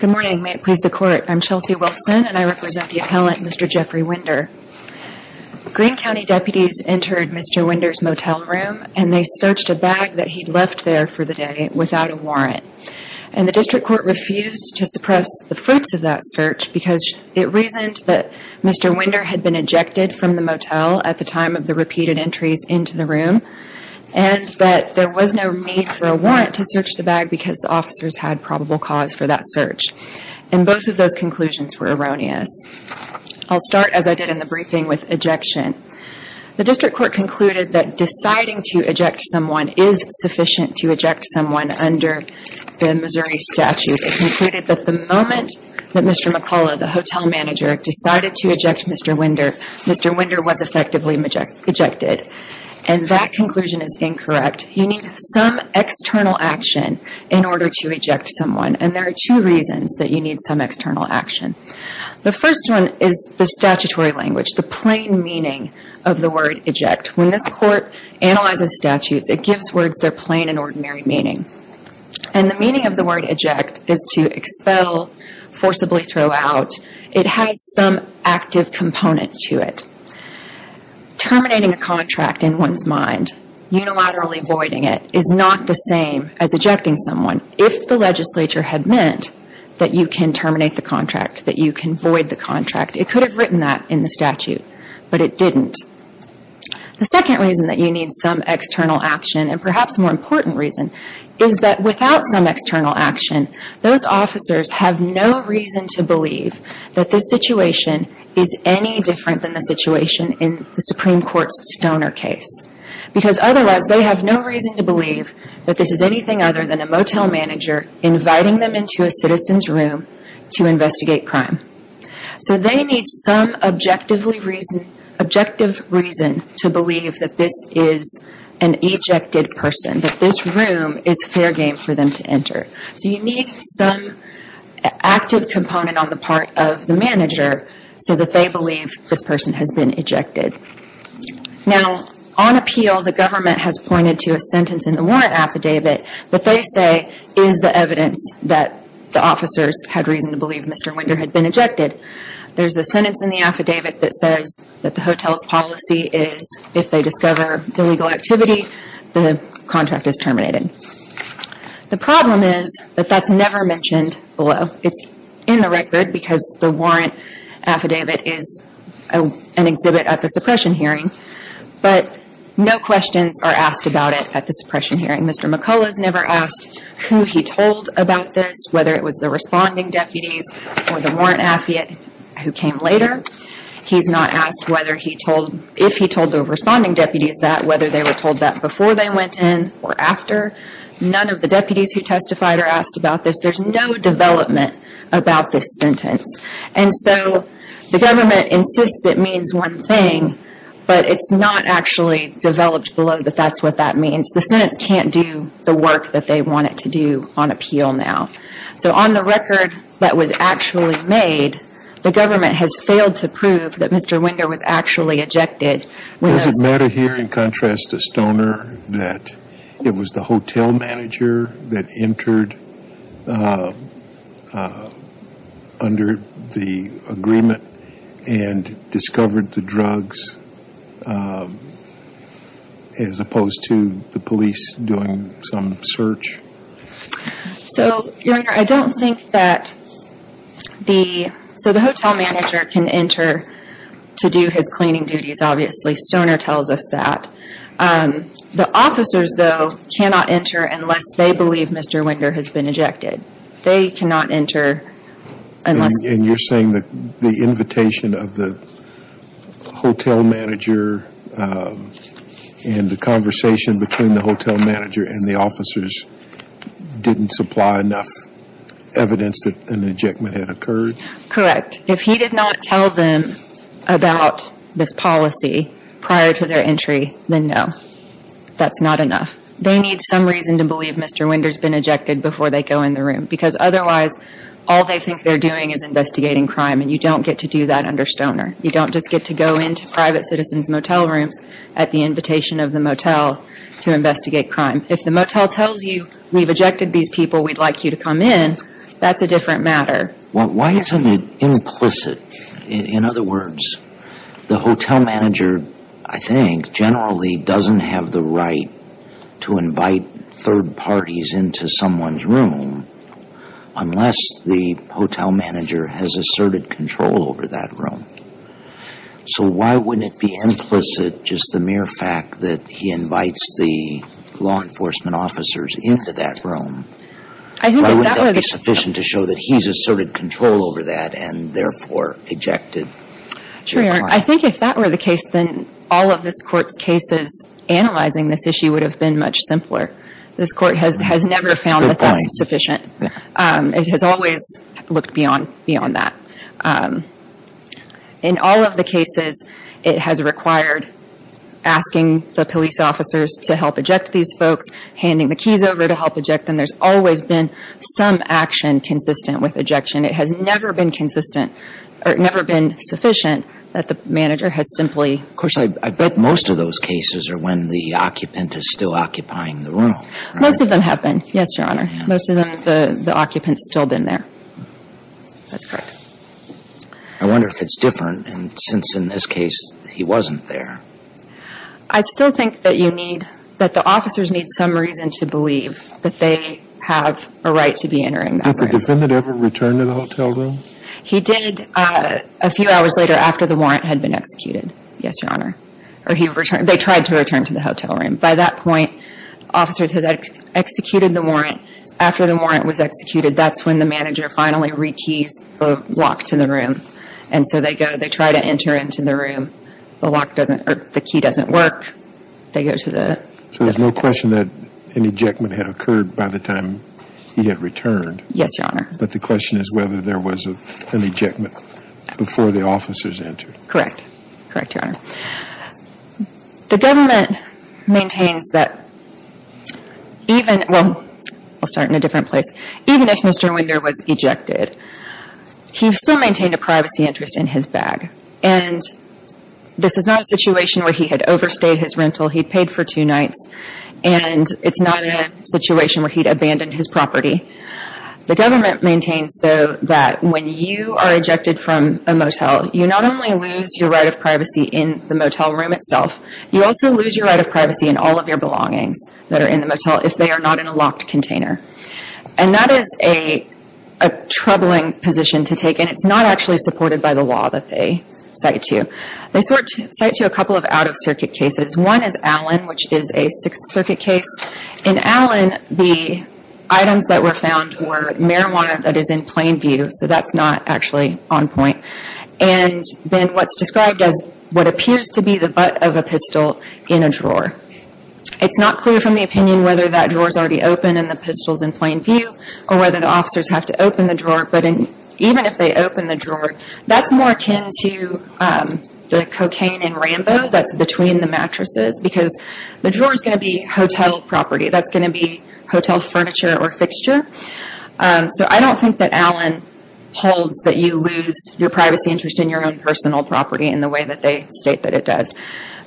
Good morning. May it please the Court. I'm Chelsea Wilson and I represent the appellant Mr. Jeffrey Winder. Green County deputies entered Mr. Winder's motel room and they searched a bag that he'd left there for the day without a warrant. And the district court refused to suppress the fruits of that search because it reasoned that Mr. Winder had been ejected from the motel at the time of the repeated entries into the room and that there was no need for a warrant to search the bag because the officers had probable cause for that search. And both of those conclusions were erroneous. I'll start as I did in the briefing with ejection. The district court concluded that deciding to eject someone is sufficient to eject someone under the Missouri statute. It concluded that the moment that Mr. McCullough, the hotel owner, Mr. Winder was effectively ejected. And that conclusion is incorrect. You need some external action in order to eject someone. And there are two reasons that you need some external action. The first one is the statutory language, the plain meaning of the word eject. When this Court analyzes statutes, it gives words their plain and ordinary meaning. And the plain meaning of the word eject is to expel, forcibly throw out. It has some active component to it. Terminating a contract in one's mind, unilaterally voiding it, is not the same as ejecting someone if the legislature had meant that you can terminate the contract, that you can void the contract. It could have written that in the statute, but it didn't. The second reason that you need some external action and perhaps a more important reason is that without some external action, those officers have no reason to believe that this situation is any different than the situation in the Supreme Court's Stoner case. Because otherwise they have no reason to believe that this is anything other than a motel manager inviting them into a citizen's room to investigate crime. So they need some objective reason to believe that this is an ejected person, that this room is fair game for them to enter. So you need some active component on the part of the manager so that they believe this person has been ejected. Now, on appeal, the government has pointed to a sentence in the warrant affidavit that they say is the evidence that the officers had reason to believe Mr. Winder had been ejected. That is, if they discover illegal activity, the contract is terminated. The problem is that that's never mentioned below. It's in the record because the warrant affidavit is an exhibit at the suppression hearing, but no questions are asked about it at the suppression hearing. Mr. McCullough has never asked who he told about this, whether it was the responding deputies or the warrant affidavit who came later. He's not asked if he told the responding deputies that, whether they were told that before they went in or after. None of the deputies who testified are asked about this. There's no development about this sentence. And so the government insists it means one thing, but it's not actually developed below that that's what that means. The sentence can't do the work that they want it to do on appeal now. So on the record that was actually made, the government has failed to prove that Does it matter here in contrast to Stoner that it was the hotel manager that entered under the agreement and discovered the drugs as opposed to the police doing some search? So your honor, I don't think that the, so the hotel manager can enter to do his cleaning duties, obviously. Stoner tells us that. The officers though cannot enter unless they believe Mr. Winder has been ejected. They cannot enter unless And you're saying that the invitation of the hotel manager and the conversation between the hotel manager and the officers didn't supply enough evidence that an ejectment had occurred? Correct. If he did not tell them about this policy prior to their entry, then no. That's not enough. They need some reason to believe Mr. Winder has been ejected before they go in the room. Because otherwise, all they think they're doing is investigating crime. And you don't get to do that under Stoner. You don't just get to go into private citizens' motel rooms at the invitation of the motel to investigate crime. If the motel tells you we've ejected these people, we'd like you to come in, that's a different matter. Well, why isn't it implicit? In other words, the hotel manager, I think, generally doesn't have the right to invite third parties into someone's room unless the hotel manager has asserted control over that room. So why wouldn't it be implicit just the mere fact that he invites the law enforcement officers into that room? Why wouldn't that be sufficient to show that he's asserted control over that and therefore ejected? Sure. I think if that were the case, then all of this Court's cases analyzing this issue would have been much simpler. This Court has never found that that's sufficient. It has always looked beyond that. In all of the cases, it has required asking the police officers to help eject these folks, handing the keys over to help eject them. There's always been some action consistent with ejection. It has never been consistent or never been sufficient that the manager has simply... Of course, I bet most of those cases are when the occupant is still occupying the room. Most of them have been, yes, Your Honor. Most of them, the occupant's still been there. That's correct. I wonder if it's different, and since in this case he wasn't there... I still think that you need, that the officers need some reason to believe that they have a right to be entering that room. Did the defendant ever return to the hotel room? He did a few hours later after the warrant had been executed, yes, Your Honor. They tried to return to the hotel room. By that point, officers had executed the warrant. After the warrant was executed, that's when the manager finally rekeys the lock to the room. And so they go, they try to enter into the room. The lock doesn't, or the key doesn't work. They go to the... So there's no question that an ejectment had occurred by the time he had returned? Yes, Your Honor. But the question is whether there was an ejectment before the officers entered. Correct. Correct, Your Honor. The government maintains that even, well, I'll start in a different place. Even if Mr. Winder was ejected, he still maintained a privacy interest in his rights, and it's not a situation where he'd abandoned his property. The government maintains, though, that when you are ejected from a motel, you not only lose your right of privacy in the motel room itself, you also lose your right of privacy in all of your belongings that are in the motel if they are not in a locked container. And that is a troubling position to take, and it's not actually supported by the law that they cite to. They cite to a couple of out-of-circuit cases. One is Allen, which is a Sixth Circuit case. In Allen, the items that were found were marijuana that is in plain view, so that's not actually on point. And then what's described as what appears to be the butt of a pistol in a drawer. It's not clear from the opinion whether that drawer is already open and the pistol is in plain view, or whether the officers have to open the drawer. But even if they open the cocaine in Rambo, that's between the mattresses, because the drawer is going to be hotel property. That's going to be hotel furniture or fixture. So I don't think that Allen holds that you lose your privacy interest in your own personal property in the way that they state that it does.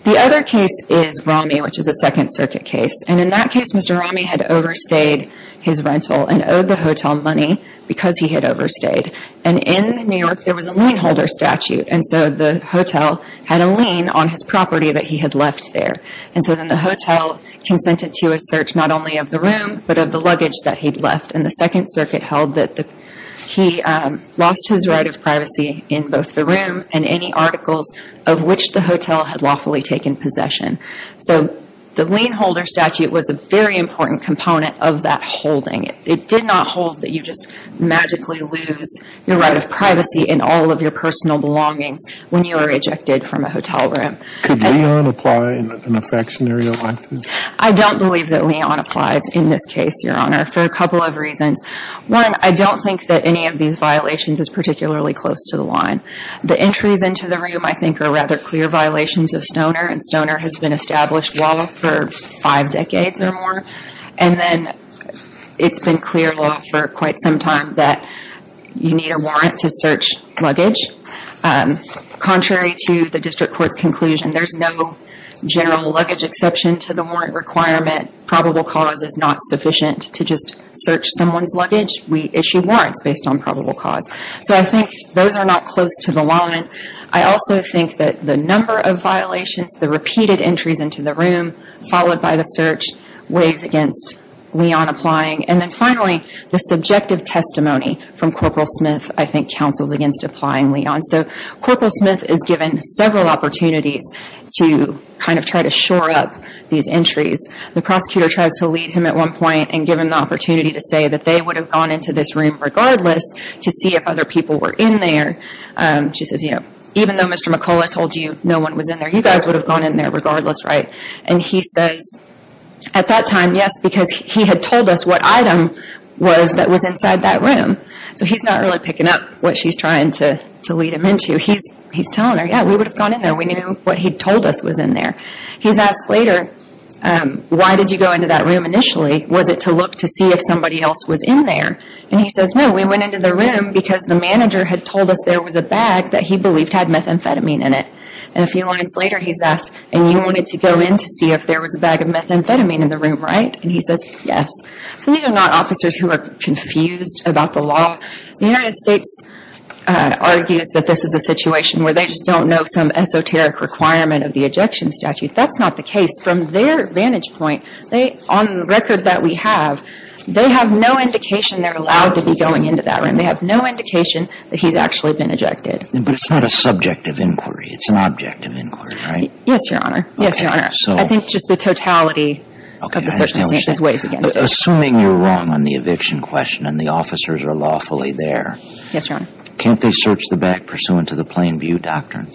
The other case is Ramey, which is a Second Circuit case. And in that case, Mr. Ramey had overstayed his rental and owed the hotel money because he had overstayed. And in New York, there was a lien holder statute, and so the hotel had a lien on his property that he had left there. And so then the hotel consented to a search not only of the room, but of the luggage that he'd left. And the Second Circuit held that he lost his right of privacy in both the room and any articles of which the hotel had lawfully taken possession. So the lien holder statute was a very important component of that holding. It did not hold that you just magically lose your right of privacy when you are ejected from a hotel room. Could lien apply in a factionary like this? I don't believe that lien applies in this case, Your Honor, for a couple of reasons. One, I don't think that any of these violations is particularly close to the line. The entries into the room, I think, are rather clear violations of stoner, and stoner has been established law for five decades or more. And then it's been clear law for quite some time that you need a warrant to search luggage. Contrary to the District Court's conclusion, there's no general luggage exception to the warrant requirement. Probable cause is not sufficient to just search someone's luggage. We issue warrants based on probable cause. So I think those are not close to the line. I also think that the number of violations, the repeated entries into the room, followed by the search, weighs against lien applying. And then finally, the subjective testimony from Corporal Smith, I think, counsels against applying lien. So Corporal Smith is given several opportunities to kind of try to shore up these entries. The prosecutor tries to lead him at one point and give him the opportunity to say that they would have gone into this room regardless to see if other people were in there. She says, you know, even though Mr. McCullough told you no one was in there, you guys would have gone in there regardless, right? And he says, at that time, yes, because he had told us what item was inside that room. So he's not really picking up what she's trying to lead him into. He's telling her, yeah, we would have gone in there. We knew what he told us was in there. He's asked later, why did you go into that room initially? Was it to look to see if somebody else was in there? And he says, no, we went into the room because the manager had told us there was a bag that he believed had methamphetamine in it. And a few lines later, he's asked, and you wanted to go in to see if there was a bag of methamphetamine in the room, right? And he says, yes. So these are not officers who are confused about the law. The United States argues that this is a situation where they just don't know some esoteric requirement of the ejection statute. That's not the case. From their vantage point, they, on the record that we have, they have no indication they're allowed to be going into that room. They have no indication that he's actually been ejected. But it's not a subject of inquiry. It's an object of inquiry, right? Yes, Your Honor. Yes, Your Honor. I think just the totality of the circumstances weighs against it. Assuming you're wrong on the eviction question and the officers are lawfully there, can't they search the bag pursuant to the Plainview Doctrine?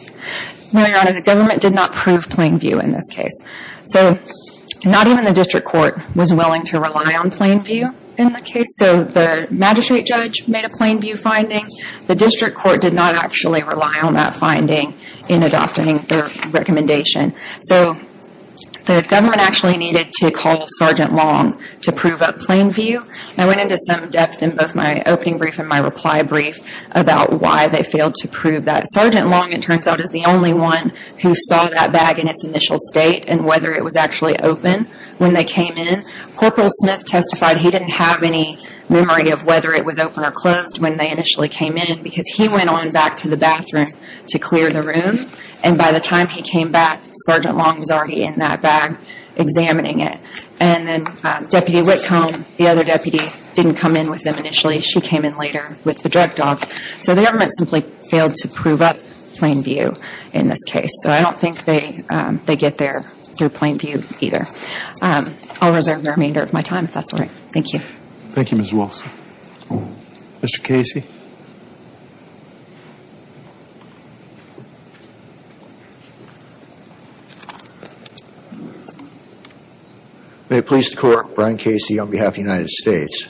No, Your Honor. The government did not prove Plainview in this case. So not even the district court was willing to rely on Plainview in the case. So the magistrate judge made a Plainview finding. The district court did not actually rely on that finding in adopting their recommendation. So the government actually needed to call Sgt. Long to prove up Plainview. I went into some depth in both my opening brief and my reply brief about why they failed to prove that. Sgt. Long, it turns out, is the only one who saw that bag in its initial state and whether it was actually open when they came in. Corporal Smith testified he didn't have any memory of whether it was open or closed when they initially came in because he went on back to the bathroom to clear the room. And by the time he came back, Sgt. Long was already in that bag examining it. And then Deputy Whitcomb, the other deputy, didn't come in with them initially. She came in later with the drug dog. So the government simply failed to prove up Plainview in this case. So I don't think they get there through Plainview either. I'll reserve the remainder of my time, if that's all right. Thank you. Thank you, Ms. Wilson. Mr. Casey? May it please the Court, Brian Casey on behalf of the United States.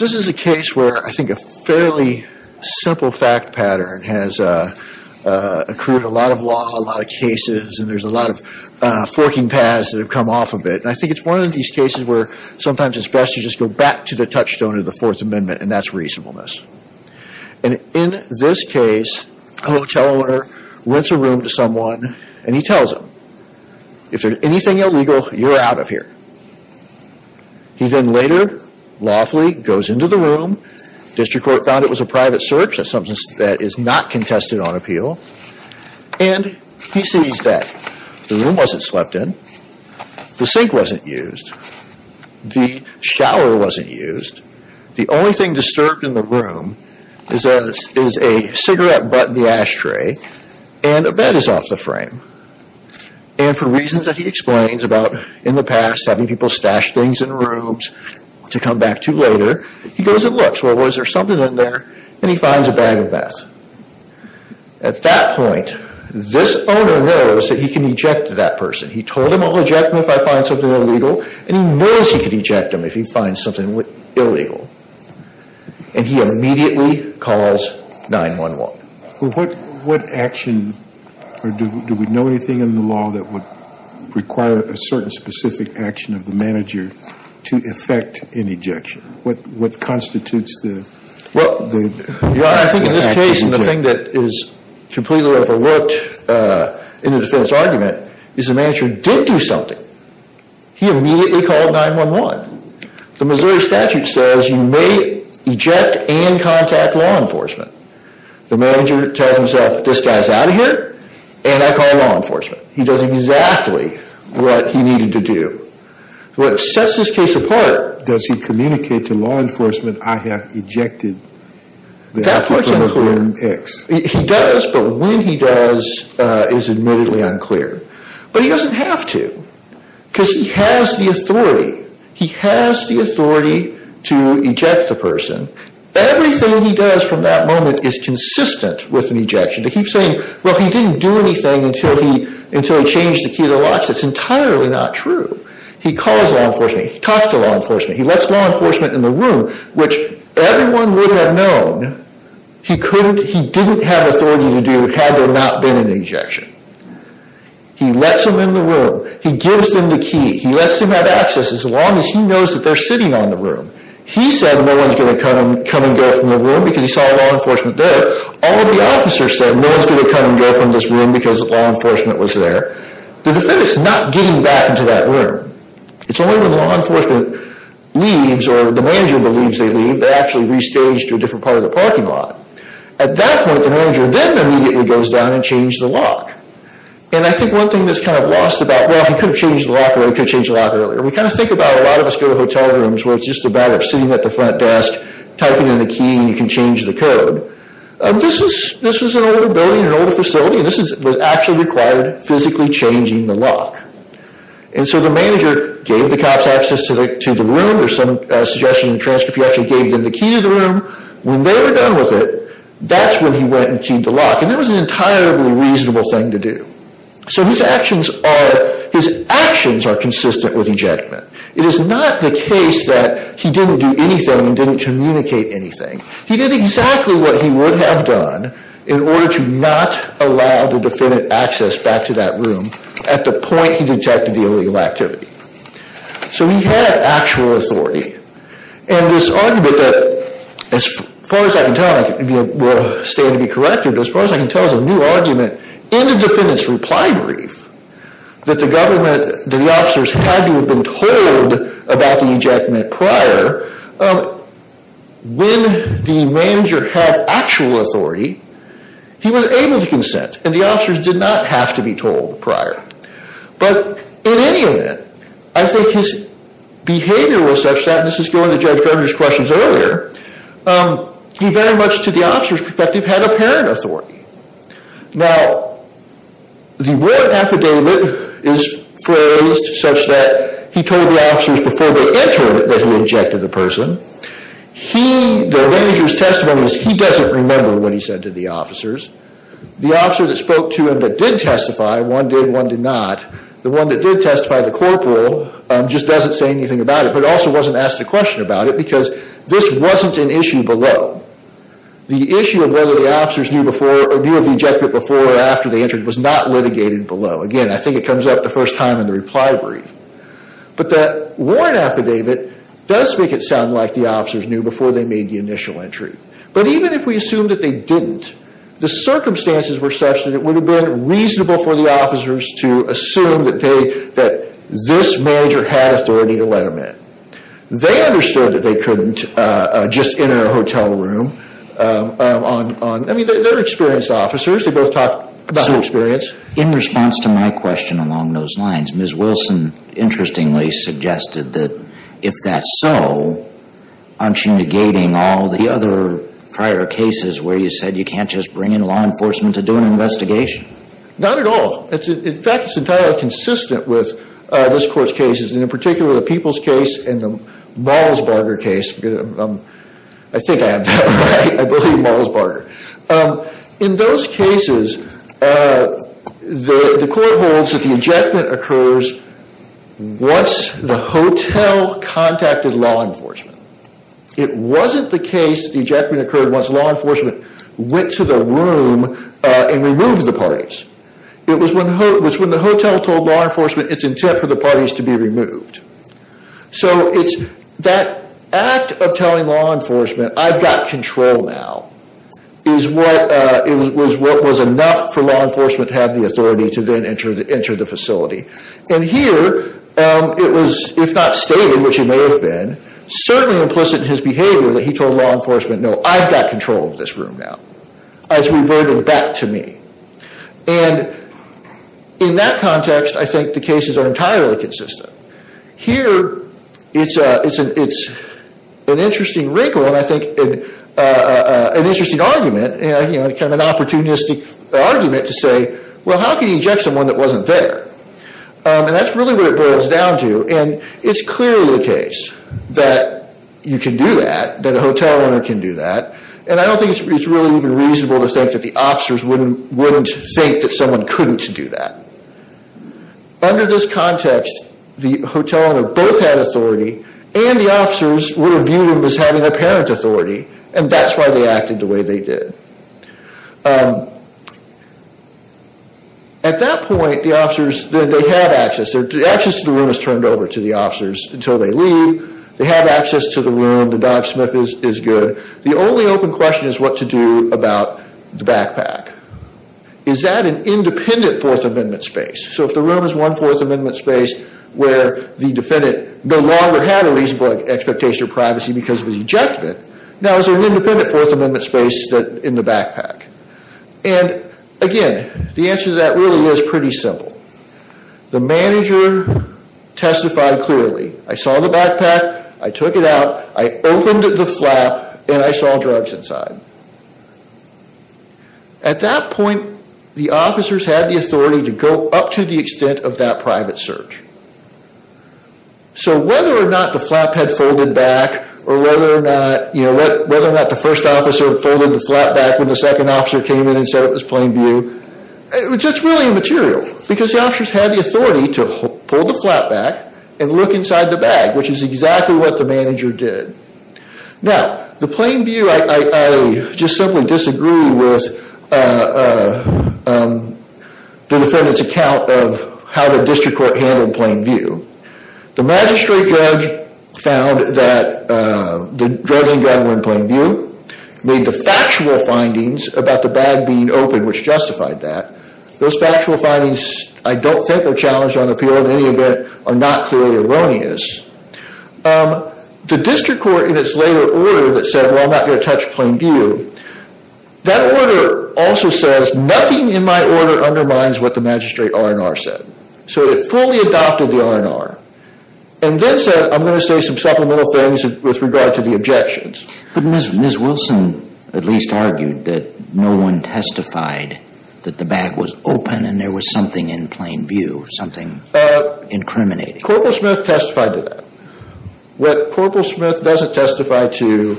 This is a case where I think a fairly simple fact pattern has accrued a lot of law, a lot of cases, and there's a lot of forking paths that have come off of it. And I think it's one of these cases where sometimes it's best to just go back to the touchstone of the Fourth Amendment and that's reasonableness. And in this case, a hotel owner rents a room to someone and he tells them, if there's anything illegal, you're out of here. He then later lawfully goes into the room. District Court found it was a private search. That's something that is not contested on appeal. And he sees that the room wasn't slept in, the sink wasn't used, the shower wasn't used. The only thing disturbed in the room is a cigarette butt in the ashtray and a bed is off the frame. And for reasons that he explains about in the past having people stash things in rooms to come back to later, he goes and looks. Well, was there something in there? And he finds a bag of meth. At that point, this owner knows that he can eject that person. He told him, I'll eject him if I find something illegal. And he knows he can eject him if he finds something illegal. And he immediately calls 911. Well, what action or do we know anything in the law that would require a certain specific action of the manager to effect an ejection? What constitutes the... Well, Your Honor, I think in this case, the thing that is completely overlooked in the defendant's argument is the manager did do something. He immediately called 911. The Missouri statute says you may eject and contact law enforcement. The manager tells himself, this guy's out of here, and I call law enforcement. He does exactly what he needed to do. What sets this case apart... Does he communicate to law enforcement, I have ejected that person from room X? He does, but when he does is admittedly unclear. But he doesn't have to, because he has the authority. He has the authority to eject the person. Everything he does from that moment is consistent with an ejection. To keep saying, well, he didn't do anything until he changed the key to the locks, that's entirely not true. He calls law enforcement. He talks to law enforcement. He lets law enforcement in the room, which everyone would have known he didn't have authority to do had there not been an ejection. He lets them in the room. He gives them the key. He lets them have access as long as he knows that they're sitting on the room. He said no one's going to come and go from the room because he saw law enforcement there. All of the officers said no one's going to come and go from this room because law enforcement was there. The defendant's not getting back into that room. It's only when law enforcement leaves, or the manager believes they leave, they're actually restaged to a different part of the parking lot. At that point, the manager then immediately goes down and changes the lock. And I think one thing that's kind of lost about, well, he could have changed the lock earlier. We kind of think about, a lot of us go to hotel rooms where it's just about sitting at the front desk, typing in the key, and you can change the code. This was an older building, an older facility, and this was actually required physically changing the lock. And so the manager gave the cops access to the room. There's some suggestion in the transcript he actually gave them the key to the room. When they were done with it, that's when he went and keyed the lock. And that was an entirely reasonable thing to do. So his actions are consistent with ejection. It is not the case that he didn't do anything and didn't communicate anything. He did exactly what he would have done in order to not allow the defendant access back to that room at the point he detected the illegal activity. So he had actual authority. And this argument that, as far as I can tell, I will stand to be corrected, but as far as I can tell is a new argument in the defendant's reply brief that the government, that the officers had to have been told about the ejectment prior, when the manager had actual authority, he was able to consent and the officers did not have to be told prior. But in any event, I think his behavior was such that, and this is going to Judge Fender's questions earlier, he very much, to the officer's perspective, had apparent authority. Now, the warrant affidavit is phrased such that he told the officers before they entered that he ejected the person. He, the manager's testimony is he doesn't remember what he said to the officers. The officer that spoke to him that did testify, one did, one did not, the one that did testify, the corporal, just doesn't say anything about it, but also wasn't asked a question about it because this wasn't an issue below. The issue of whether the officers knew before or knew of the ejection before or after they entered was not litigated below. Again, I think it comes up the first time in the reply brief. But that warrant affidavit does make it sound like the officers knew before they made the initial entry. But even if we assume that they didn't, the circumstances were such that it would have been reasonable for the officers to assume that they, that this manager had authority to let him in. They understood that they couldn't just enter a hotel room on, I mean, they're experienced officers, they both talked about their experience. In response to my question along those lines, Ms. Wilson interestingly suggested that if that's so, aren't you negating all the other prior cases where you said you can't just bring in law enforcement to do an investigation? Not at all. In fact, it's entirely consistent with this Court's cases, and in particular the Peoples case and the Malsbarger case. I think I have that right. I believe Malsbarger. In those cases, the Court holds that the ejectment occurs once the hotel contacted law enforcement. It wasn't the case that the ejection occurred once law enforcement went to the room and removed the parties. It was when the hotel told law enforcement its intent for the parties to be removed. So it's that act of telling law enforcement, I've got control now, is what was enough for law enforcement to have the authority to then enter the facility. And here it was, if not stated, which it may have been, certainly implicit in his behavior that he told law enforcement, no, I've got control of this room now. It's reverted back to me. And in that context, I think the cases are entirely consistent. Here, it's an interesting wrinkle, and I think an interesting argument, kind of an opportunistic argument to say, well, how can you eject someone that wasn't there? And that's really what it boils down to. And it's clearly the case that you can do that, that a hotel owner can do that. And I don't think it's really even reasonable to think that the officers wouldn't think that someone couldn't do that. Under this context, the hotel owner both had authority and the officers would have viewed him as having apparent authority, and that's why they acted the way they did. At that point, the officers, they have access. The access to the room is turned over to the officers until they leave. They have access to the room. Is that an independent Fourth Amendment space? So if the room is one Fourth Amendment space where the defendant no longer had a reasonable expectation of privacy because of his ejectment, now is there an independent Fourth Amendment space in the backpack? And again, the answer to that really is pretty simple. The manager testified clearly. I saw the backpack. I took it out. I opened the flap, and I saw drugs inside. At that point, the officers had the authority to go up to the extent of that private search. So whether or not the flap had folded back or whether or not the first officer had folded the flap back when the second officer came in and set up his plain view, it was just really immaterial because the officers had the authority to pull the flap back and look disagree with the defendant's account of how the district court handled plain view. The magistrate judge found that the drugs in the bag were in plain view, made the factual findings about the bag being open, which justified that. Those factual findings, I don't think were challenged on appeal in any event, are not clearly erroneous. The district court in its later order that said, well, I'm not going to touch plain view, that order also says nothing in my order undermines what the magistrate R&R said. So it fully adopted the R&R and then said, I'm going to say some supplemental things with regard to the objections. But Ms. Wilson at least argued that no one testified that the bag was open and there was something in plain view, something incriminating. Corporal Smith testified to that. What Corporal Smith doesn't testify to,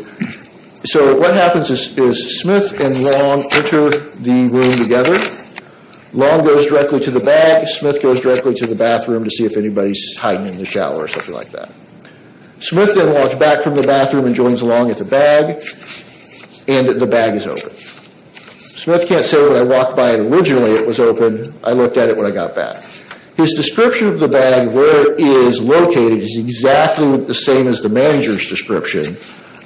so what happens is Smith and Long enter the room together. Long goes directly to the bag, Smith goes directly to the bathroom to see if anybody's hiding in the shower or something like that. Smith then walks back from the bathroom and joins Long at the bag, and the bag is open. Smith can't say when I walked by originally it was open, I looked at it when I got back. His description of the bag, where it is located, is exactly the same as the manager's description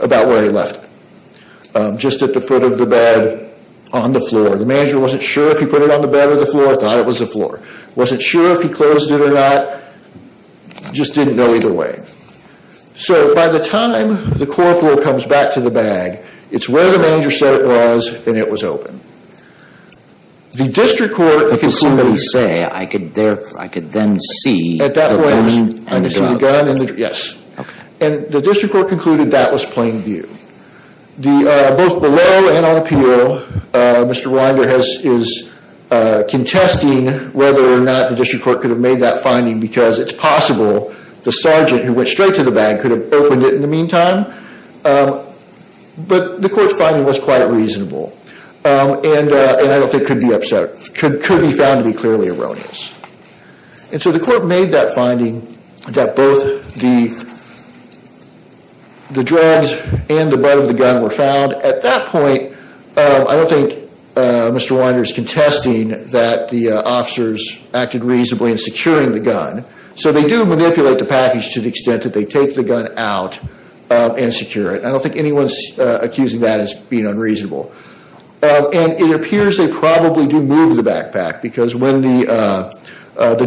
about where he left it. Just at the foot of the bed, on the floor. The manager wasn't sure if he put it on the bed or the floor, thought it was the floor. Wasn't sure if he closed it or not, just didn't know either way. So by the time the corporal comes back to the bag, it's where the manager said it was and it was open. The district court concluded... What did somebody say? I could then see... At that point, I could see the gun, yes. And the district court concluded that was plain view. Both below and on appeal, Mr. Rwinder is contesting whether or not the district court could have made that finding because it's possible the sergeant who went straight to the bag could have opened it in the meantime. But the court's finding was quite reasonable. And I don't think it could be found to be clearly erroneous. And so the court made that finding that both the drugs and the butt of the gun were found. At that point, I don't think Mr. Rwinder is contesting that the officers acted reasonably in securing the gun. So they do manipulate the package to the extent that they take the gun out and secure it. I don't think anyone's accusing that as being unreasonable. And it appears they probably do move the backpack because when the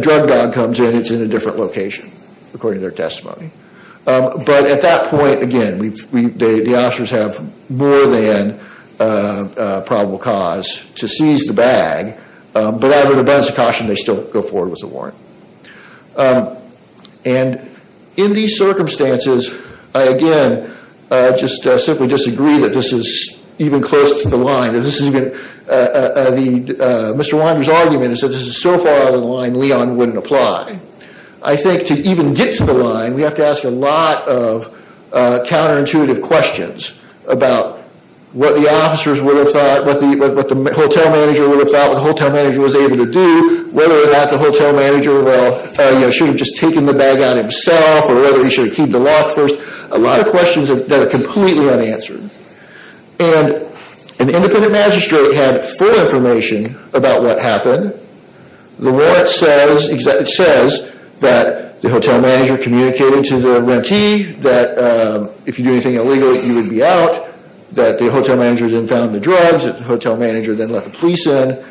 drug dog comes in, it's in a different location, according to their testimony. But at that point, again, the officers have more than probable cause to seize the bag, but I would have been as a caution they still go forward with the warrant. And in these circumstances, I again just simply disagree that this is even close to the line. Mr. Rwinder's argument is that this is so far out of the line Leon wouldn't apply. I think to even get to the line, we have to ask a lot of counterintuitive questions about what the officers would have thought, what the hotel manager was able to do, whether or not the hotel manager should have just taken the bag out himself, or whether he should have keep the lock first. A lot of questions that are completely unanswered. And an independent magistrate had full information about what happened. The warrant says, it says that the hotel manager communicated to the rentee that if you do anything illegal, you would be out. That the hotel manager then found the drugs, that the hotel manager then let the police in.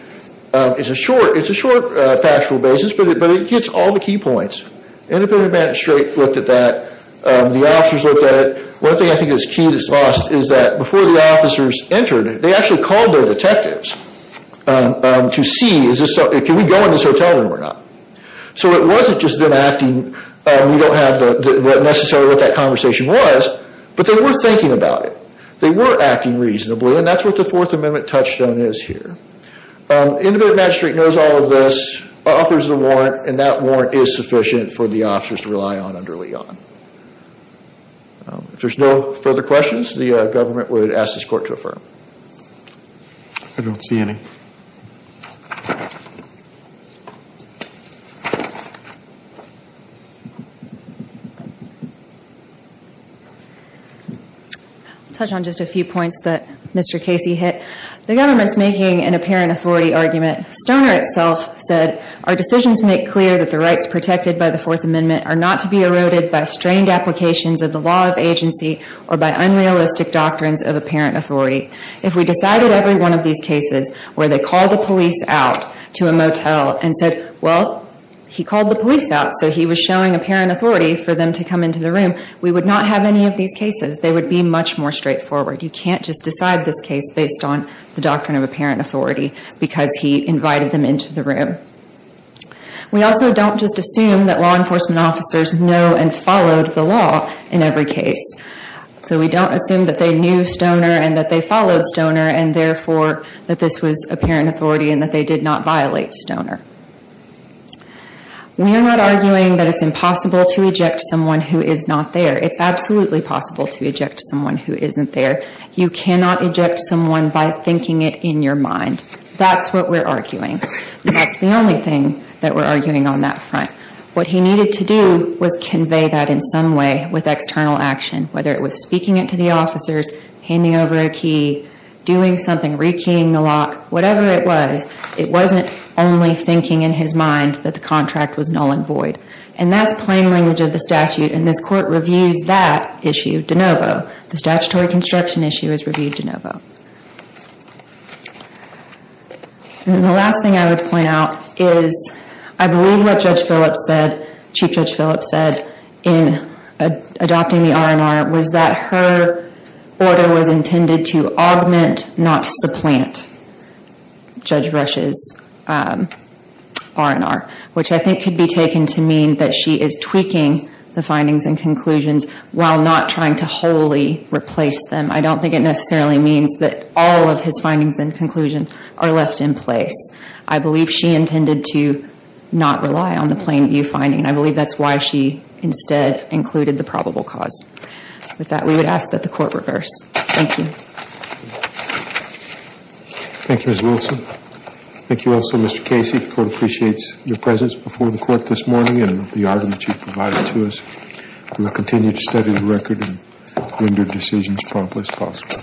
It's a short factual basis, but it gets all the key points. Independent magistrate looked at that. The officers looked at it. One thing I think is key that's lost is that before the officers entered, they actually called their detectives to see, can we go in this hotel room or not? So it wasn't just them acting, we don't have necessarily what that conversation was, but they were thinking about it. They were acting reasonably, and that's what the Fourth Amendment touchstone is here. Independent magistrate knows all of this, offers the warrant, and that warrant is sufficient for the officers to rely on under Leon. If there's no further questions, the government would ask this court to affirm. I'll touch on just a few points that Mr. Casey hit. The government's making an apparent authority argument. Stoner itself said, our decisions make clear that the rights protected by the Fourth Amendment are not to be eroded by strained applications of the law of agency or by unrealistic doctrines of apparent authority. If we decided every one of these cases where they called the police out to a motel and said, well, he called the police out, so he was showing apparent authority for them to come into the room, we would not have any of these cases. They would be much more straightforward. You can't just decide this case based on the doctrine of apparent authority because he invited them into the room. We also don't just assume that law enforcement officers know and followed the law in every case. So we don't assume that they knew about Stoner and therefore that this was apparent authority and that they did not violate Stoner. We are not arguing that it's impossible to eject someone who is not there. It's absolutely possible to eject someone who isn't there. You cannot eject someone by thinking it in your mind. That's what we're arguing. That's the only thing that we're arguing on that front. What he needed to do was convey that in some way with external action, whether it was speaking it to the officers, handing over a key, doing something, re-keying the lock, whatever it was, it wasn't only thinking in his mind that the contract was null and void. And that's plain language of the statute and this court reviews that issue de novo. The statutory construction issue is reviewed de novo. And the last thing I would point out is I believe what Chief Judge Phillips said in adopting the R&R was that her order was intended to augment not supplant Judge Rush's R&R. Which I think could be taken to mean that she is tweaking the findings and conclusions while not trying to wholly replace them. I don't think it necessarily means that all of his findings and conclusions are left in place. I believe she intended to not rely on the plain view finding. I believe that's why she instead included the probable cause. With that, we would ask that the court reverse. Thank you. Thank you, Ms. Wilson. Thank you also, Mr. Casey. The court appreciates your presence before the court this morning and the argument you've provided to us. We will continue to study the record and render decisions promptly as possible.